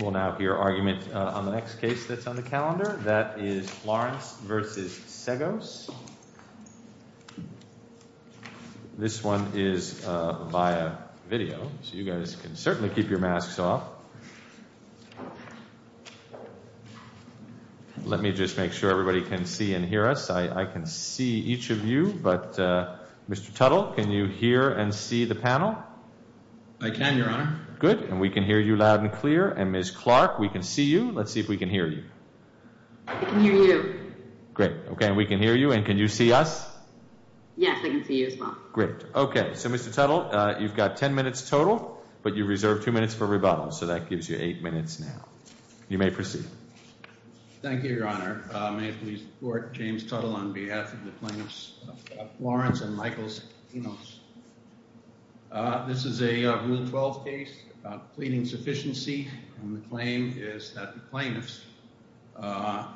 We'll now hear argument on the next case that's on the calendar. That is Florence versus Seggos. This one is via video, so you guys can certainly keep your masks off. Let me just make sure everybody can see and hear us. I can see each of you, but Mr. Tuttle, can you hear and see the panel? I can, your honor. Good, and we can hear you loud and clear, and Ms. Clark, we can see you. Let's see if we can hear you. I can hear you. Great, okay, and we can hear you, and can you see us? Yes, I can see you as well. Great, okay, so Mr. Tuttle, you've got 10 minutes total, but you reserve two minutes for rebuttal, so that gives you eight minutes now. You may proceed. Thank you, your honor. May it please the court, James Tuttle on behalf of the plaintiffs, Florence and Michael Seggos. This is a Rule 12 case about pleading sufficiency, and the claim is that the plaintiffs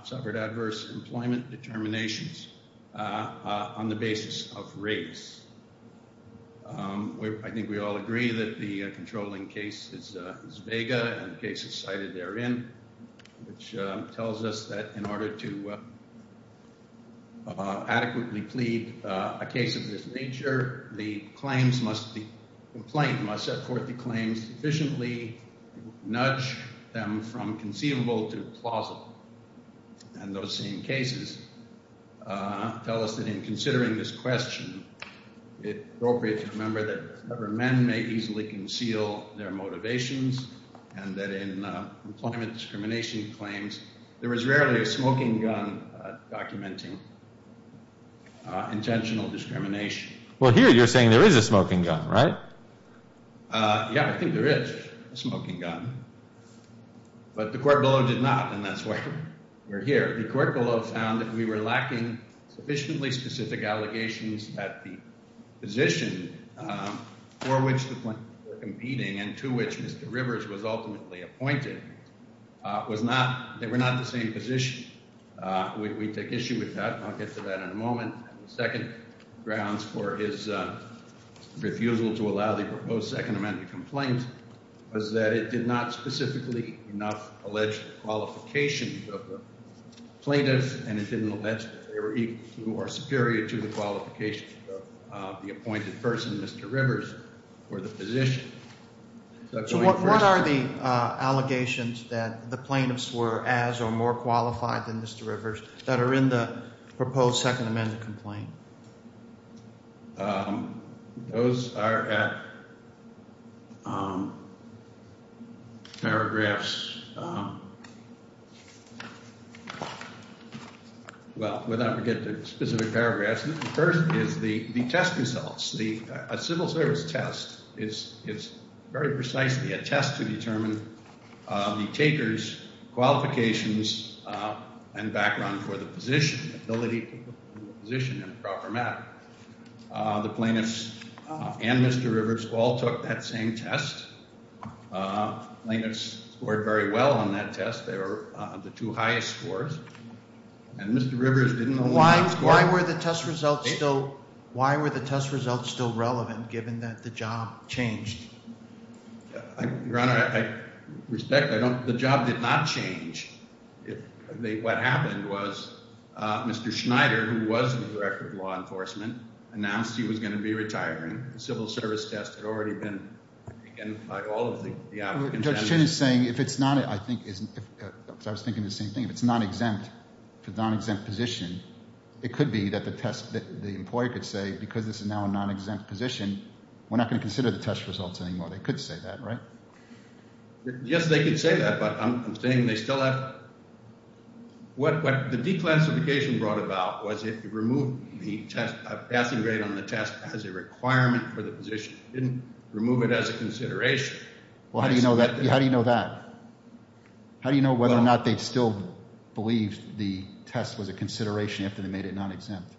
suffered adverse employment determinations on the basis of race. I think we all agree that the controlling case is vega, and the case is cited therein, which tells us that in order to claim, the complaint must set forth the claims efficiently, nudge them from conceivable to plausible, and those same cases tell us that in considering this question, it's appropriate to remember that men may easily conceal their motivations, and that in employment discrimination claims, there is rarely a smoking gun documenting intentional discrimination. Well, here you're saying there is a smoking gun, right? Yeah, I think there is a smoking gun, but the court below did not, and that's why we're here. The court below found that we were lacking sufficiently specific allegations that the position for which the plaintiffs were competing, and to which Mr. Rivers was ultimately appointed, was not, they were not the same position. We take issue with that. I'll get to that in a moment. And the second grounds for his refusal to allow the proposed Second Amendment complaint was that it did not specifically enough allege the qualifications of the plaintiffs, and it didn't allege that they were equal to or superior to the qualifications of the appointed person, Mr. Rivers, or the position. What are the allegations that the plaintiffs were as or more qualified than Mr. Rivers that are in the proposed Second Amendment complaint? Those are at paragraphs, well, we're not going to get to specific paragraphs. The first is the test results. A civil service test is very precisely a test to determine the taker's qualifications and background for the position, ability to put the position in a proper manner. The plaintiffs and Mr. Rivers all took that same test. Plaintiffs scored very well on that test. They were the two highest scores, and Mr. Rivers didn't know why. Why were the test results still relevant, given that the job changed? Your Honor, I respect, the job did not change. What happened was Mr. Schneider, who was the Director of Law Enforcement, announced he was going to be retiring. The civil service test had already been taken by all of the applicants. Judge Chin is saying, if it's not, I was thinking the same thing, if it's not exempt, if it's a non-exempt position, it could be that the employee could say, because this is now a non-exempt position, we're not going to consider the test results anymore. They could say that, right? Yes, they could say that, but I'm saying they still have... What the declassification brought about was it removed the passing grade on the test as a requirement for the position. It didn't remove it as a consideration. How do you know that? How do you know whether or not they still believed the test was a consideration after they made it non-exempt?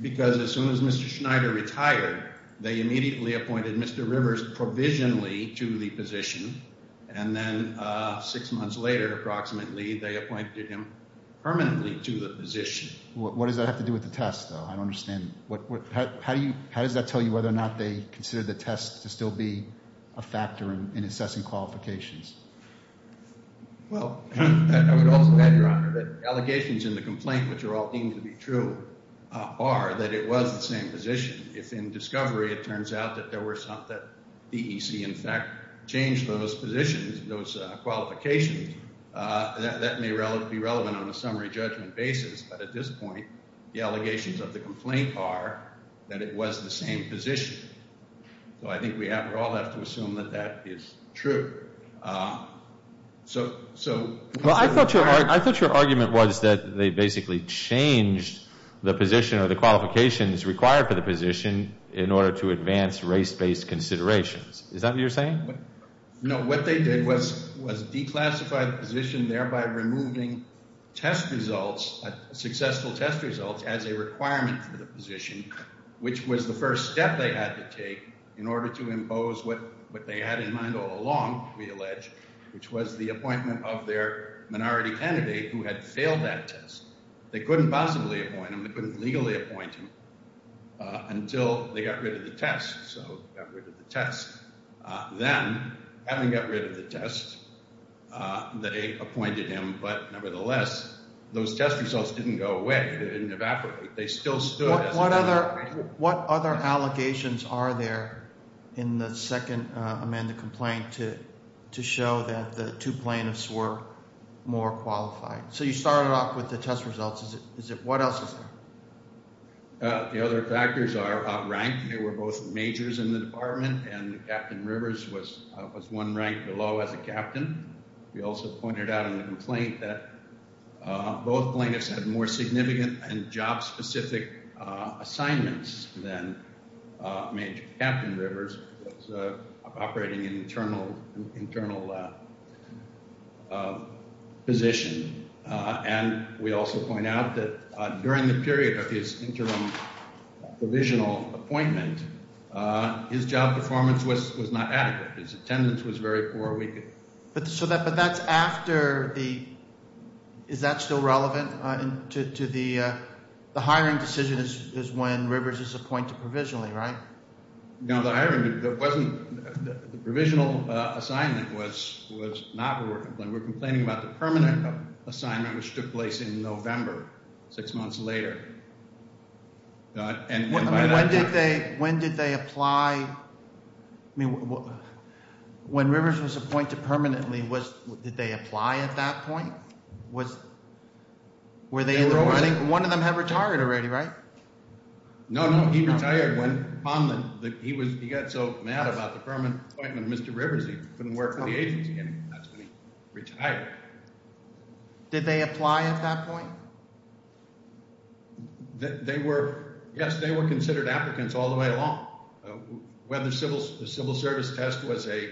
Because as soon as Mr. Schneider retired, they immediately appointed Mr. Rivers provisionally to the position, and then six months later, approximately, they appointed him permanently to the position. What does that have to do with the test, though? I don't understand. How does that tell you whether or not they considered the test to still be a factor in assessing qualifications? Well, I would also add, Your Honor, that allegations in the complaint, which are all deemed to be true, are that it was the same position. If in discovery, it turns out that DEC, in fact, changed those positions, those qualifications, that may be relevant on a summary judgment basis, but at this point, the allegations of the complaint are that it was the same position. So I think we all have to assume that that is true. I thought your argument was that they basically changed the position or the qualifications required for the position in order to advance race-based considerations. Is that what you're saying? No, what they did was declassify the position, thereby removing successful test results as a requirement for the position, which was the first step they had to take in order to impose what they had in mind all along, we allege, which was the appointment of their minority candidate who had failed that test. They couldn't possibly appoint him. They couldn't legally appoint him until they got rid of the test. So they got rid of the test. Then, having got rid of the test, they appointed him. But nevertheless, those test results didn't go away. They didn't evaporate. They still stood. What other allegations are there in the second amended complaint to show that the two plaintiffs were more qualified? So you started off with the test process. The other factors are outranked. They were both majors in the department and Captain Rivers was one rank below as a captain. We also pointed out in the complaint that both plaintiffs had more significant and job-specific assignments than Major Captain Rivers, who was operating an internal position. And we also point out that during the period of his interim provisional appointment, his job performance was not adequate. His attendance was very poor. Is that still relevant to the the hiring decision is when Rivers is appointed provisionally, right? No, the provisional assignment was not what we're complaining about. We're complaining about the permanent assignment, which took place in November, six months later. When did they apply? I mean, when Rivers was appointed permanently, did they apply at that point? Were they in the room? I think one of them had retired already, right? No, no, he retired. He got so mad about the permanent appointment of Mr. Rivers, he couldn't work for the agency anymore. That's when he retired. Did they apply at that point? They were, yes, they were considered applicants all the way along. Whether the civil service test was a,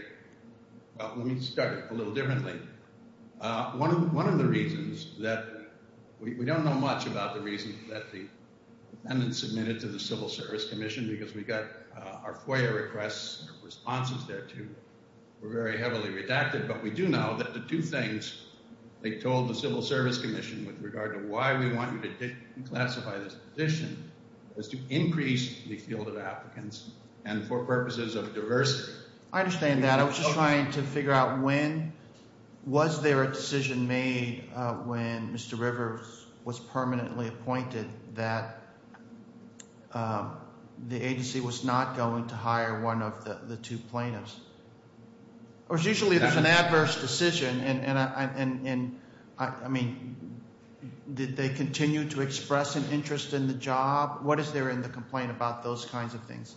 well, let me start a little differently. One of the reasons that we don't know much about the reason that the defendant submitted to the Civil Service Commission, because we got our FOIA requests, responses there too, were very heavily redacted, but we do know that the two things they told the Civil Service Commission with regard to why we want you to classify this position is to increase the field of applicants and for purposes of diversity. I understand that. I was just trying to figure out when, was there a decision made when Mr. Rivers was permanently appointed that the agency was not going to hire one of the two plaintiffs? Or it's usually there's an adverse decision and I mean, did they continue to express an interest in the job? What is there in the complaint about those kinds of things?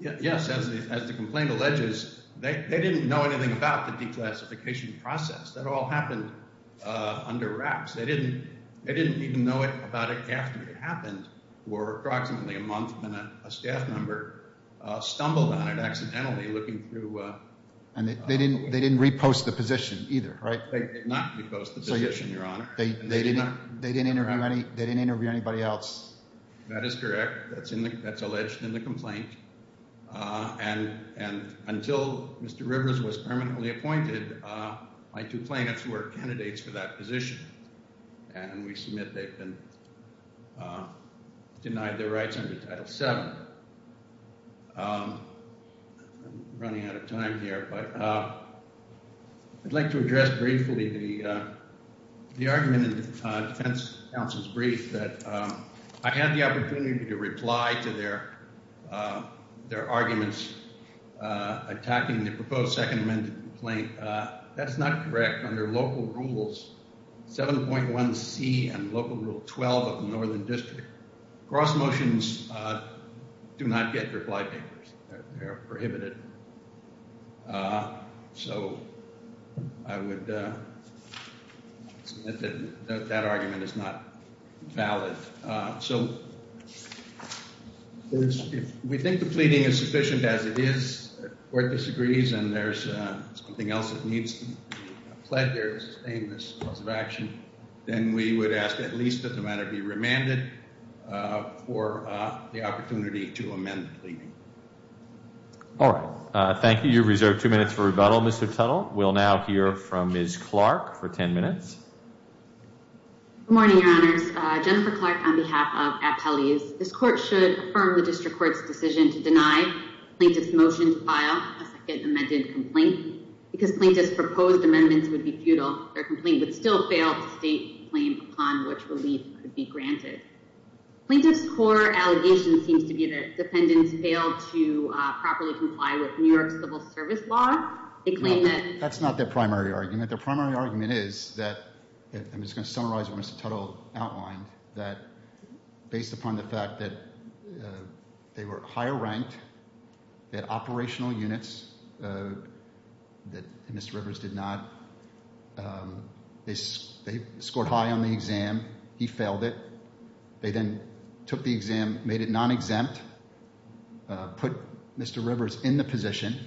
Yes, as the complaint alleges, they didn't know anything about the declassification process. That all happened under wraps. They didn't even know about it after it happened for approximately a month when a staff member stumbled on it accidentally looking through... And they didn't repost the position either, right? They did not repost the position, Your Honor. They didn't interview anybody else. That is correct. That's alleged in the complaint. And until Mr. Rivers was permanently appointed, my two plaintiffs were candidates for that position. And we submit they've been denied their rights under Title VII. I'm running out of time here, but I'd like to address briefly the argument in the defense counsel's brief that I had the opportunity to reply to their arguments attacking the proposed Second Amendment complaint. That's not correct. Under Local Rules 7.1c and Local Rule 12 of the Northern District, cross motions do not get reply papers. They are prohibited. So I would submit that that argument is not valid. So if we think the pleading is sufficient as it is, the Court disagrees and there's something else that needs to be pled there to sustain this cause of action, then we would ask at least that the matter be remanded for the opportunity to amend the pleading. All right. Thank you. You've reserved two minutes for rebuttal, Mr. Tuttle. We'll now hear from Ms. Clark for 10 minutes. Good morning, Your Honors. Jennifer Clark on behalf of Appellees. This Court should affirm the District Court's decision to deny plaintiffs' motion to file a Second Amendment complaint. Because plaintiffs' proposed amendments would be futile, their complaint would still fail to state the claim upon which relief could be granted. Plaintiffs' core allegation seems to be that defendants failed to properly comply with New York civil service law. They claim that... I'm just going to summarize what Mr. Tuttle outlined, that based upon the fact that they were higher ranked, they had operational units that Mr. Rivers did not. They scored high on the exam. He failed it. They then took the exam, made it non-exempt, put Mr. Rivers in the position.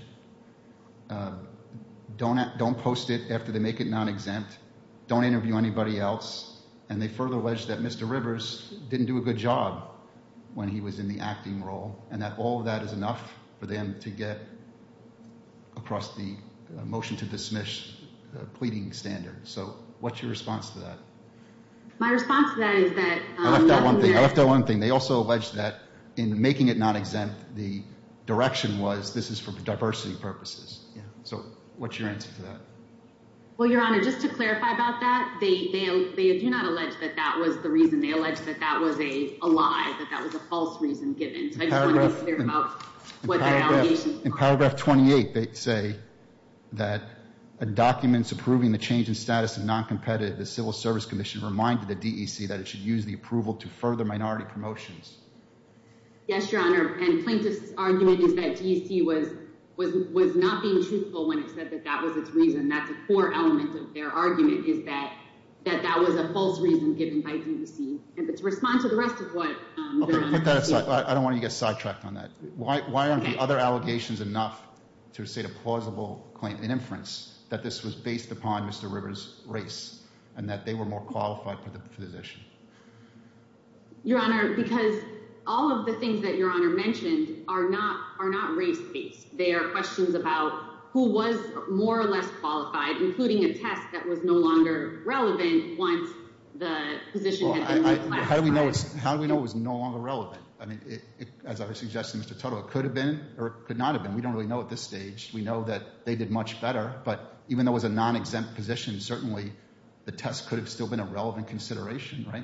Don't post it after they make it non-exempt. Don't interview anybody else. And they further alleged that Mr. Rivers didn't do a good job when he was in the acting role, and that all of that is enough for them to get across the motion to dismiss pleading standard. So what's your response to that? My response to that is that... I left out one thing. I left out one thing. They also that in making it non-exempt, the direction was this is for diversity purposes. So what's your answer to that? Well, Your Honor, just to clarify about that, they do not allege that that was the reason. They allege that that was a lie, that that was a false reason given. So I just want to be clear about what that allegation is. In paragraph 28, they say that documents approving the change in status of non-competitive, the Civil Service Commission reminded the DEC that it should use approval to further minority promotions. Yes, Your Honor, and plaintiff's argument is that DEC was not being truthful when it said that that was its reason. That's a core element of their argument, is that that was a false reason given by DEC. And to respond to the rest of what... Okay, put that aside. I don't want to get sidetracked on that. Why aren't the other allegations enough to state a plausible claim in inference that this was based upon Mr. Rivers' race and that they were more qualified for the position? Your Honor, because all of the things that Your Honor mentioned are not race-based. They are questions about who was more or less qualified, including a test that was no longer relevant once the position had been re-classified. How do we know it was no longer relevant? I mean, as I was suggesting, Mr. Tuttle, it could have been or it could not have been. We don't really know at this stage. We know that they did much better, but even though it was a non-exempt position, certainly the test could have still been a relevant consideration, right?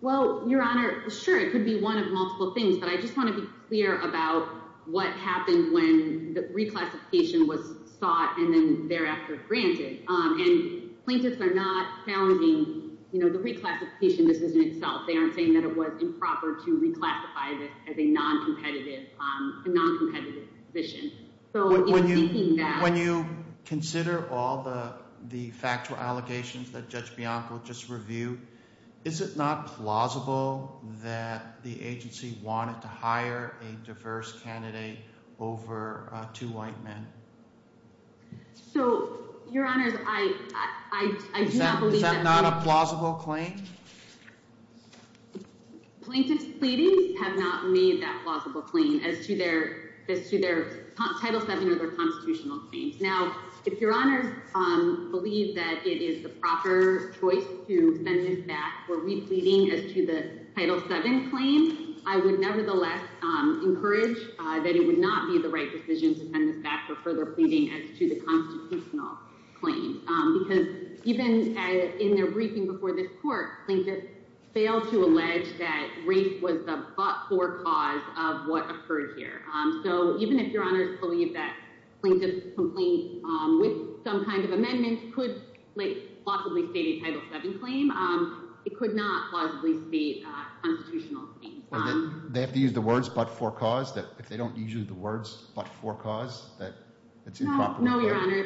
Well, Your Honor, sure. It could be one of multiple things, but I just want to be clear about what happened when the re-classification was sought and then thereafter granted. And plaintiffs are not challenging the re-classification decision itself. They aren't saying that it was improper to re-classify this as a non-competitive position. So even seeking that... When you consider all the factual allegations that Judge Bianco just reviewed, is it not plausible that the agency wanted to hire a diverse candidate over two white men? So, Your Honors, I do not believe... Is that not a plausible claim? Plaintiffs' pleadings have not made that plausible claim as to their Title VII or Constitutional claims. Now, if Your Honors believe that it is the proper choice to send this back for re-pleading as to the Title VII claim, I would nevertheless encourage that it would not be the right decision to send this back for further pleading as to the Constitutional claim. Because even in their briefing before this Court, plaintiffs failed to allege that occurred here. So even if Your Honors believe that plaintiff's complaint with some kind of amendment could plausibly state a Title VII claim, it could not plausibly state a Constitutional claim. They have to use the words, but for cause? If they don't use the words, but for cause, that it's improper? No, Your Honor.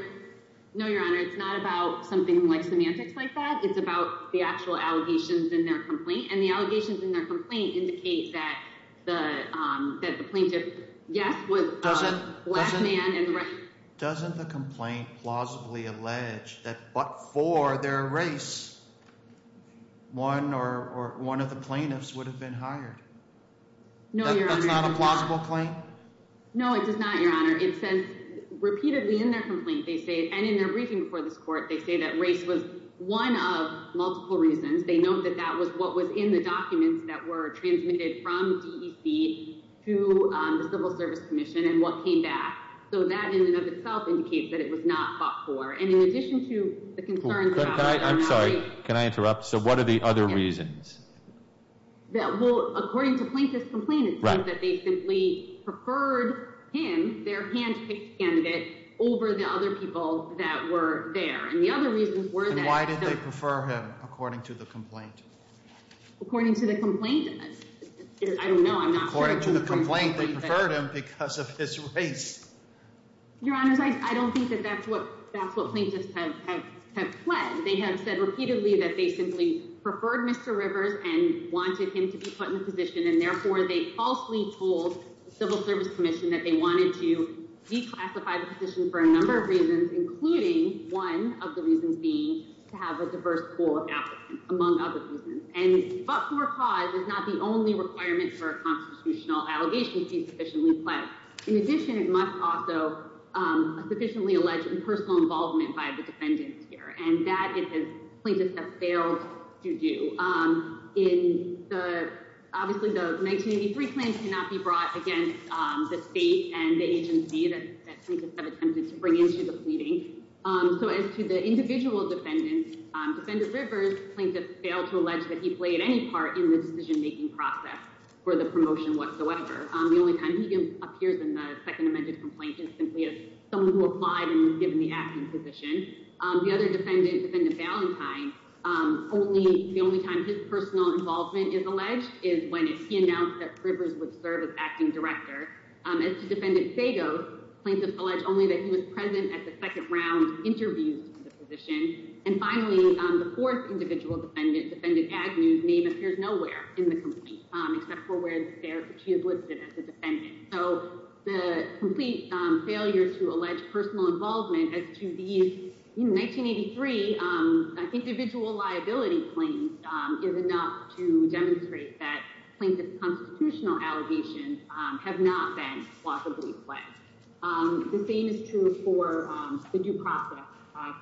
No, Your Honor. It's not about something like semantics like that. It's about the actual allegations in their complaint. And the allegations in their complaint indicate that the plaintiff, yes, was a black man and... Doesn't the complaint plausibly allege that but for their race, one or one of the plaintiffs would have been hired? No, Your Honor. That's not a plausible claim? No, it does not, Your Honor. It says repeatedly in their complaint, they say, and in their briefing before this Court, they say that race was one of multiple reasons. They note that that what was in the documents that were transmitted from DEC to the Civil Service Commission and what came back. So that in and of itself indicates that it was not fought for. And in addition to the concerns about... I'm sorry, can I interrupt? So what are the other reasons? That, well, according to plaintiff's complaint, it says that they simply preferred him, their handpicked candidate, over the other people that were there. And the other reasons were that... According to the complaint? I don't know. According to the complaint, they preferred him because of his race. Your Honor, I don't think that that's what plaintiffs have pled. They have said repeatedly that they simply preferred Mr. Rivers and wanted him to be put in the position and therefore they falsely told the Civil Service Commission that they wanted to declassify the position for a number of reasons, including one of the reasons being to have a diverse pool of applicants, among other reasons. And... But for cause is not the only requirement for a constitutional allegation to be sufficiently pled. In addition, it must also sufficiently allege impersonal involvement by the defendants here. And that, it says, plaintiffs have failed to do. Obviously, the 1983 claim cannot be depleted. So, as to the individual defendants, Defendant Rivers, plaintiffs failed to allege that he played any part in the decision-making process for the promotion whatsoever. The only time he appears in the Second Amendment complaint is simply as someone who applied and was given the acting position. The other defendant, Defendant Valentine, the only time his personal involvement is alleged is when he announced that Rivers would serve as acting director. As to Defendant Sagos, plaintiffs allege only that he was present at the second round interviews for the position. And finally, the fourth individual defendant, Defendant Agnew's name appears nowhere in the complaint, except for where she is listed as a defendant. So, the complete failure to allege personal involvement as to the 1983 individual liability claims is enough to demonstrate that plaintiff's constitutional allegations have not been plausibly pledged. The same is true for the due process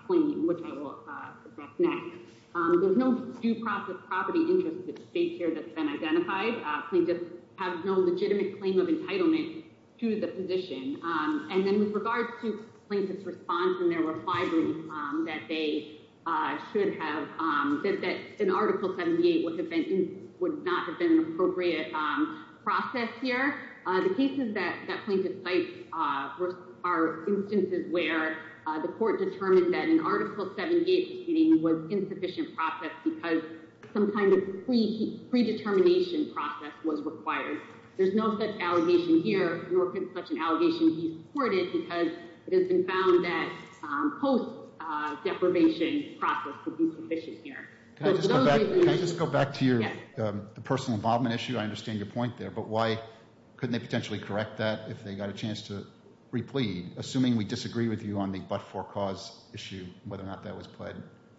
claim, which I will address next. There's no due process property interest at stake here that's been identified. Plaintiffs have no legitimate claim of entitlement to the position. And then, with regards to plaintiffs' response in their reply brief that they should have, that an Article 78 would not have been an appropriate process here, the cases that plaintiffs cite are instances where the court determined that an Article 78 proceeding was insufficient process because some kind of predetermination process was required. There's no such allegation here, nor could such an allegation be supported because it has been found that post-deprivation process would be sufficient here. Can I just go back to your personal involvement issue? I understand your point there, but why couldn't they potentially correct that if they got a chance to replead? Assuming we disagree with you on the but-for-cause issue, whether or not that was pledged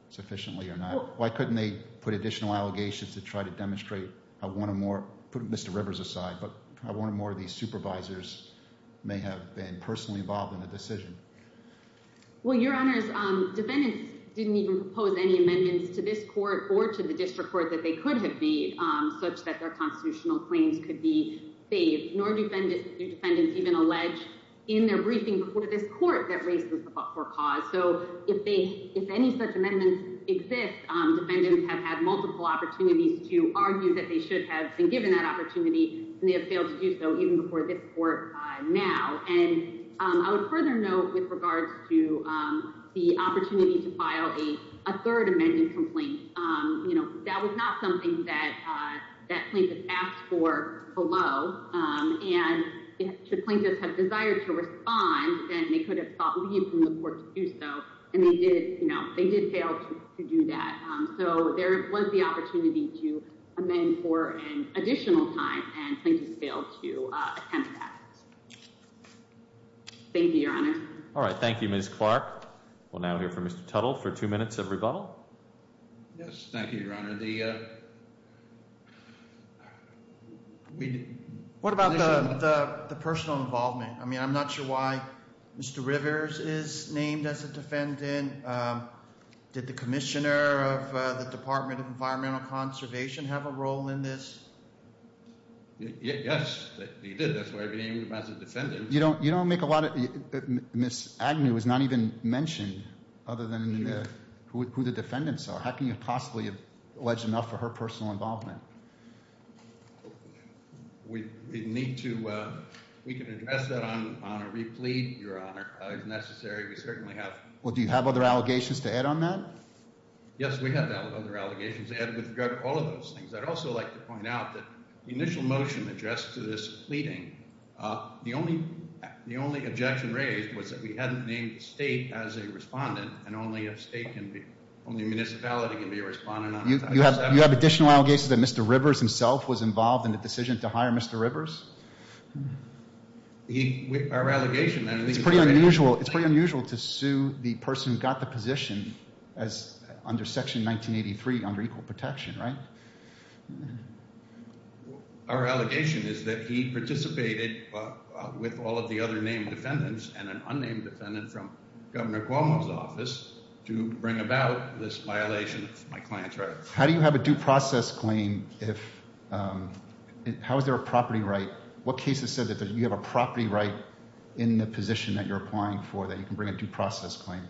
sufficiently or not, why couldn't they put additional allegations to try to demonstrate how one or more, put Mr. Rivers aside, but how one or more of these supervisors may have been personally involved in the decision? Well, Your Honors, defendants didn't even propose any amendments to this court or to the district court that they could have made such that their constitutional claims could be bailed, nor do defendants even allege in their briefing before this court that raises the but-for-cause. So, if any such amendments exist, defendants have had multiple opportunities to argue that they should have been given that opportunity, and they have to do so even before this court now. And I would further note with regards to the opportunity to file a third amending complaint, you know, that was not something that plaintiffs asked for below, and should plaintiffs have desired to respond, then they could have sought leave from the court to do so, and they did, you know, they did fail to do that. So, there was the opportunity to amend for an additional time, and plaintiffs failed to attempt that. Thank you, Your Honors. All right, thank you, Ms. Clark. We'll now hear from Mr. Tuttle for two minutes of rebuttal. Yes, thank you, Your Honor. The, we, what about the personal involvement? I mean, I'm not sure why Mr. Rivers is named as a defendant. Did the commissioner of the Department of Environmental Conservation have a role in this? Yes, he did. That's why he was named as a defendant. You don't, you don't make a lot of, Ms. Agnew is not even mentioned, other than who the defendants are. How can you possibly allege enough for her personal involvement? We need to, we can address that on a replete, Your Honor, if necessary. We certainly have. Well, do you have other allegations to add on that? Yes, we have other allegations to add with all of those things. I'd also like to point out that the initial motion addressed to this pleading, the only, the only objection raised was that we hadn't named the state as a respondent, and only a state can be, only a municipality can be a respondent. You have, you have additional allegations that Mr. Rivers himself was involved in the decision to hire Mr. Rivers? He, our allegation, it's pretty unusual, it's pretty unusual to sue the person who got the position as, under Section 1983, under equal protection, right? Our allegation is that he participated with all of the other named defendants and an unnamed defendant from Governor Cuomo's office to bring about this violation of my client's rights. How do you have a due process claim if, how is there a property right? What cases said that you have a property right in the position that you're applying for that you can bring a due process claim?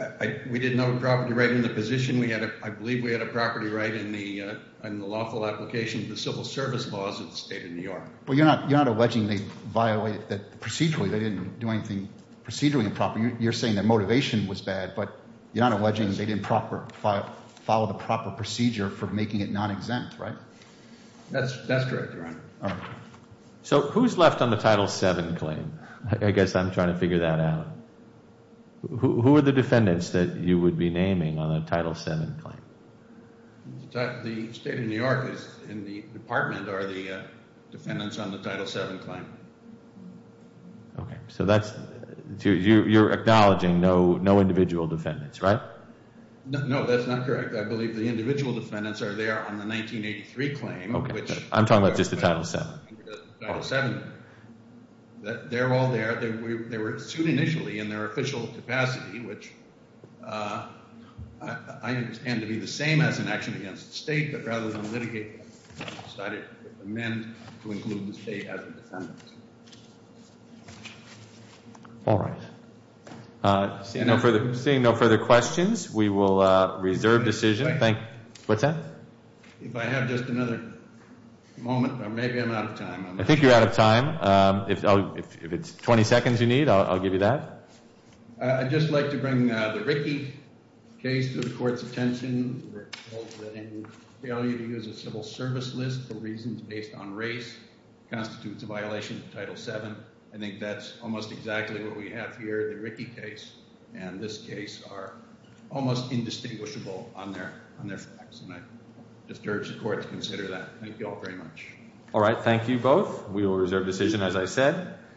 I, we didn't have a property right in the position. We had a, I believe we had a property right in the lawful application of the civil service laws of the state of New York. Well, you're not, you're not alleging they violated that procedurally, they didn't do anything procedurally improper. You're saying that motivation was bad, but you're not alleging they didn't proper, follow the proper procedure for making it non-exempt, right? That's, that's correct, Your Honor. So who's left on the Title VII claim? I guess I'm trying to figure that out. Who are the defendants that you would be naming on the Title VII claim? The state of New York is in the department are the defendants on the Title VII claim. Okay, so that's, you, you're acknowledging no, no individual defendants, right? No, that's not correct. I believe the individual defendants are there on the 1983 claim. Okay, I'm talking about just the Title VII. The Title VII, they're all there. They were sued initially in their official capacity, which I understand to be the same as an action against the state, but rather than litigate, decided to amend to include the state as a defendant. All right. Seeing no further, seeing no further questions, we will reserve decision. Thank you. What's that? If I have just another moment, or maybe I'm out of time. I think you're out of time. If, if it's 20 seconds you need, I'll give you that. I'd just like to bring the Rickey case to the court's attention. We're told that any failure to use a civil service list for reasons based on race constitutes a violation of Title VII. I think that's almost exactly what we have here. The Rickey case and this case are almost indistinguishable on their, on their facts, and I discourage the court to consider that. Thank you all very much. All right. Thank you both. We will reserve decision, as I said.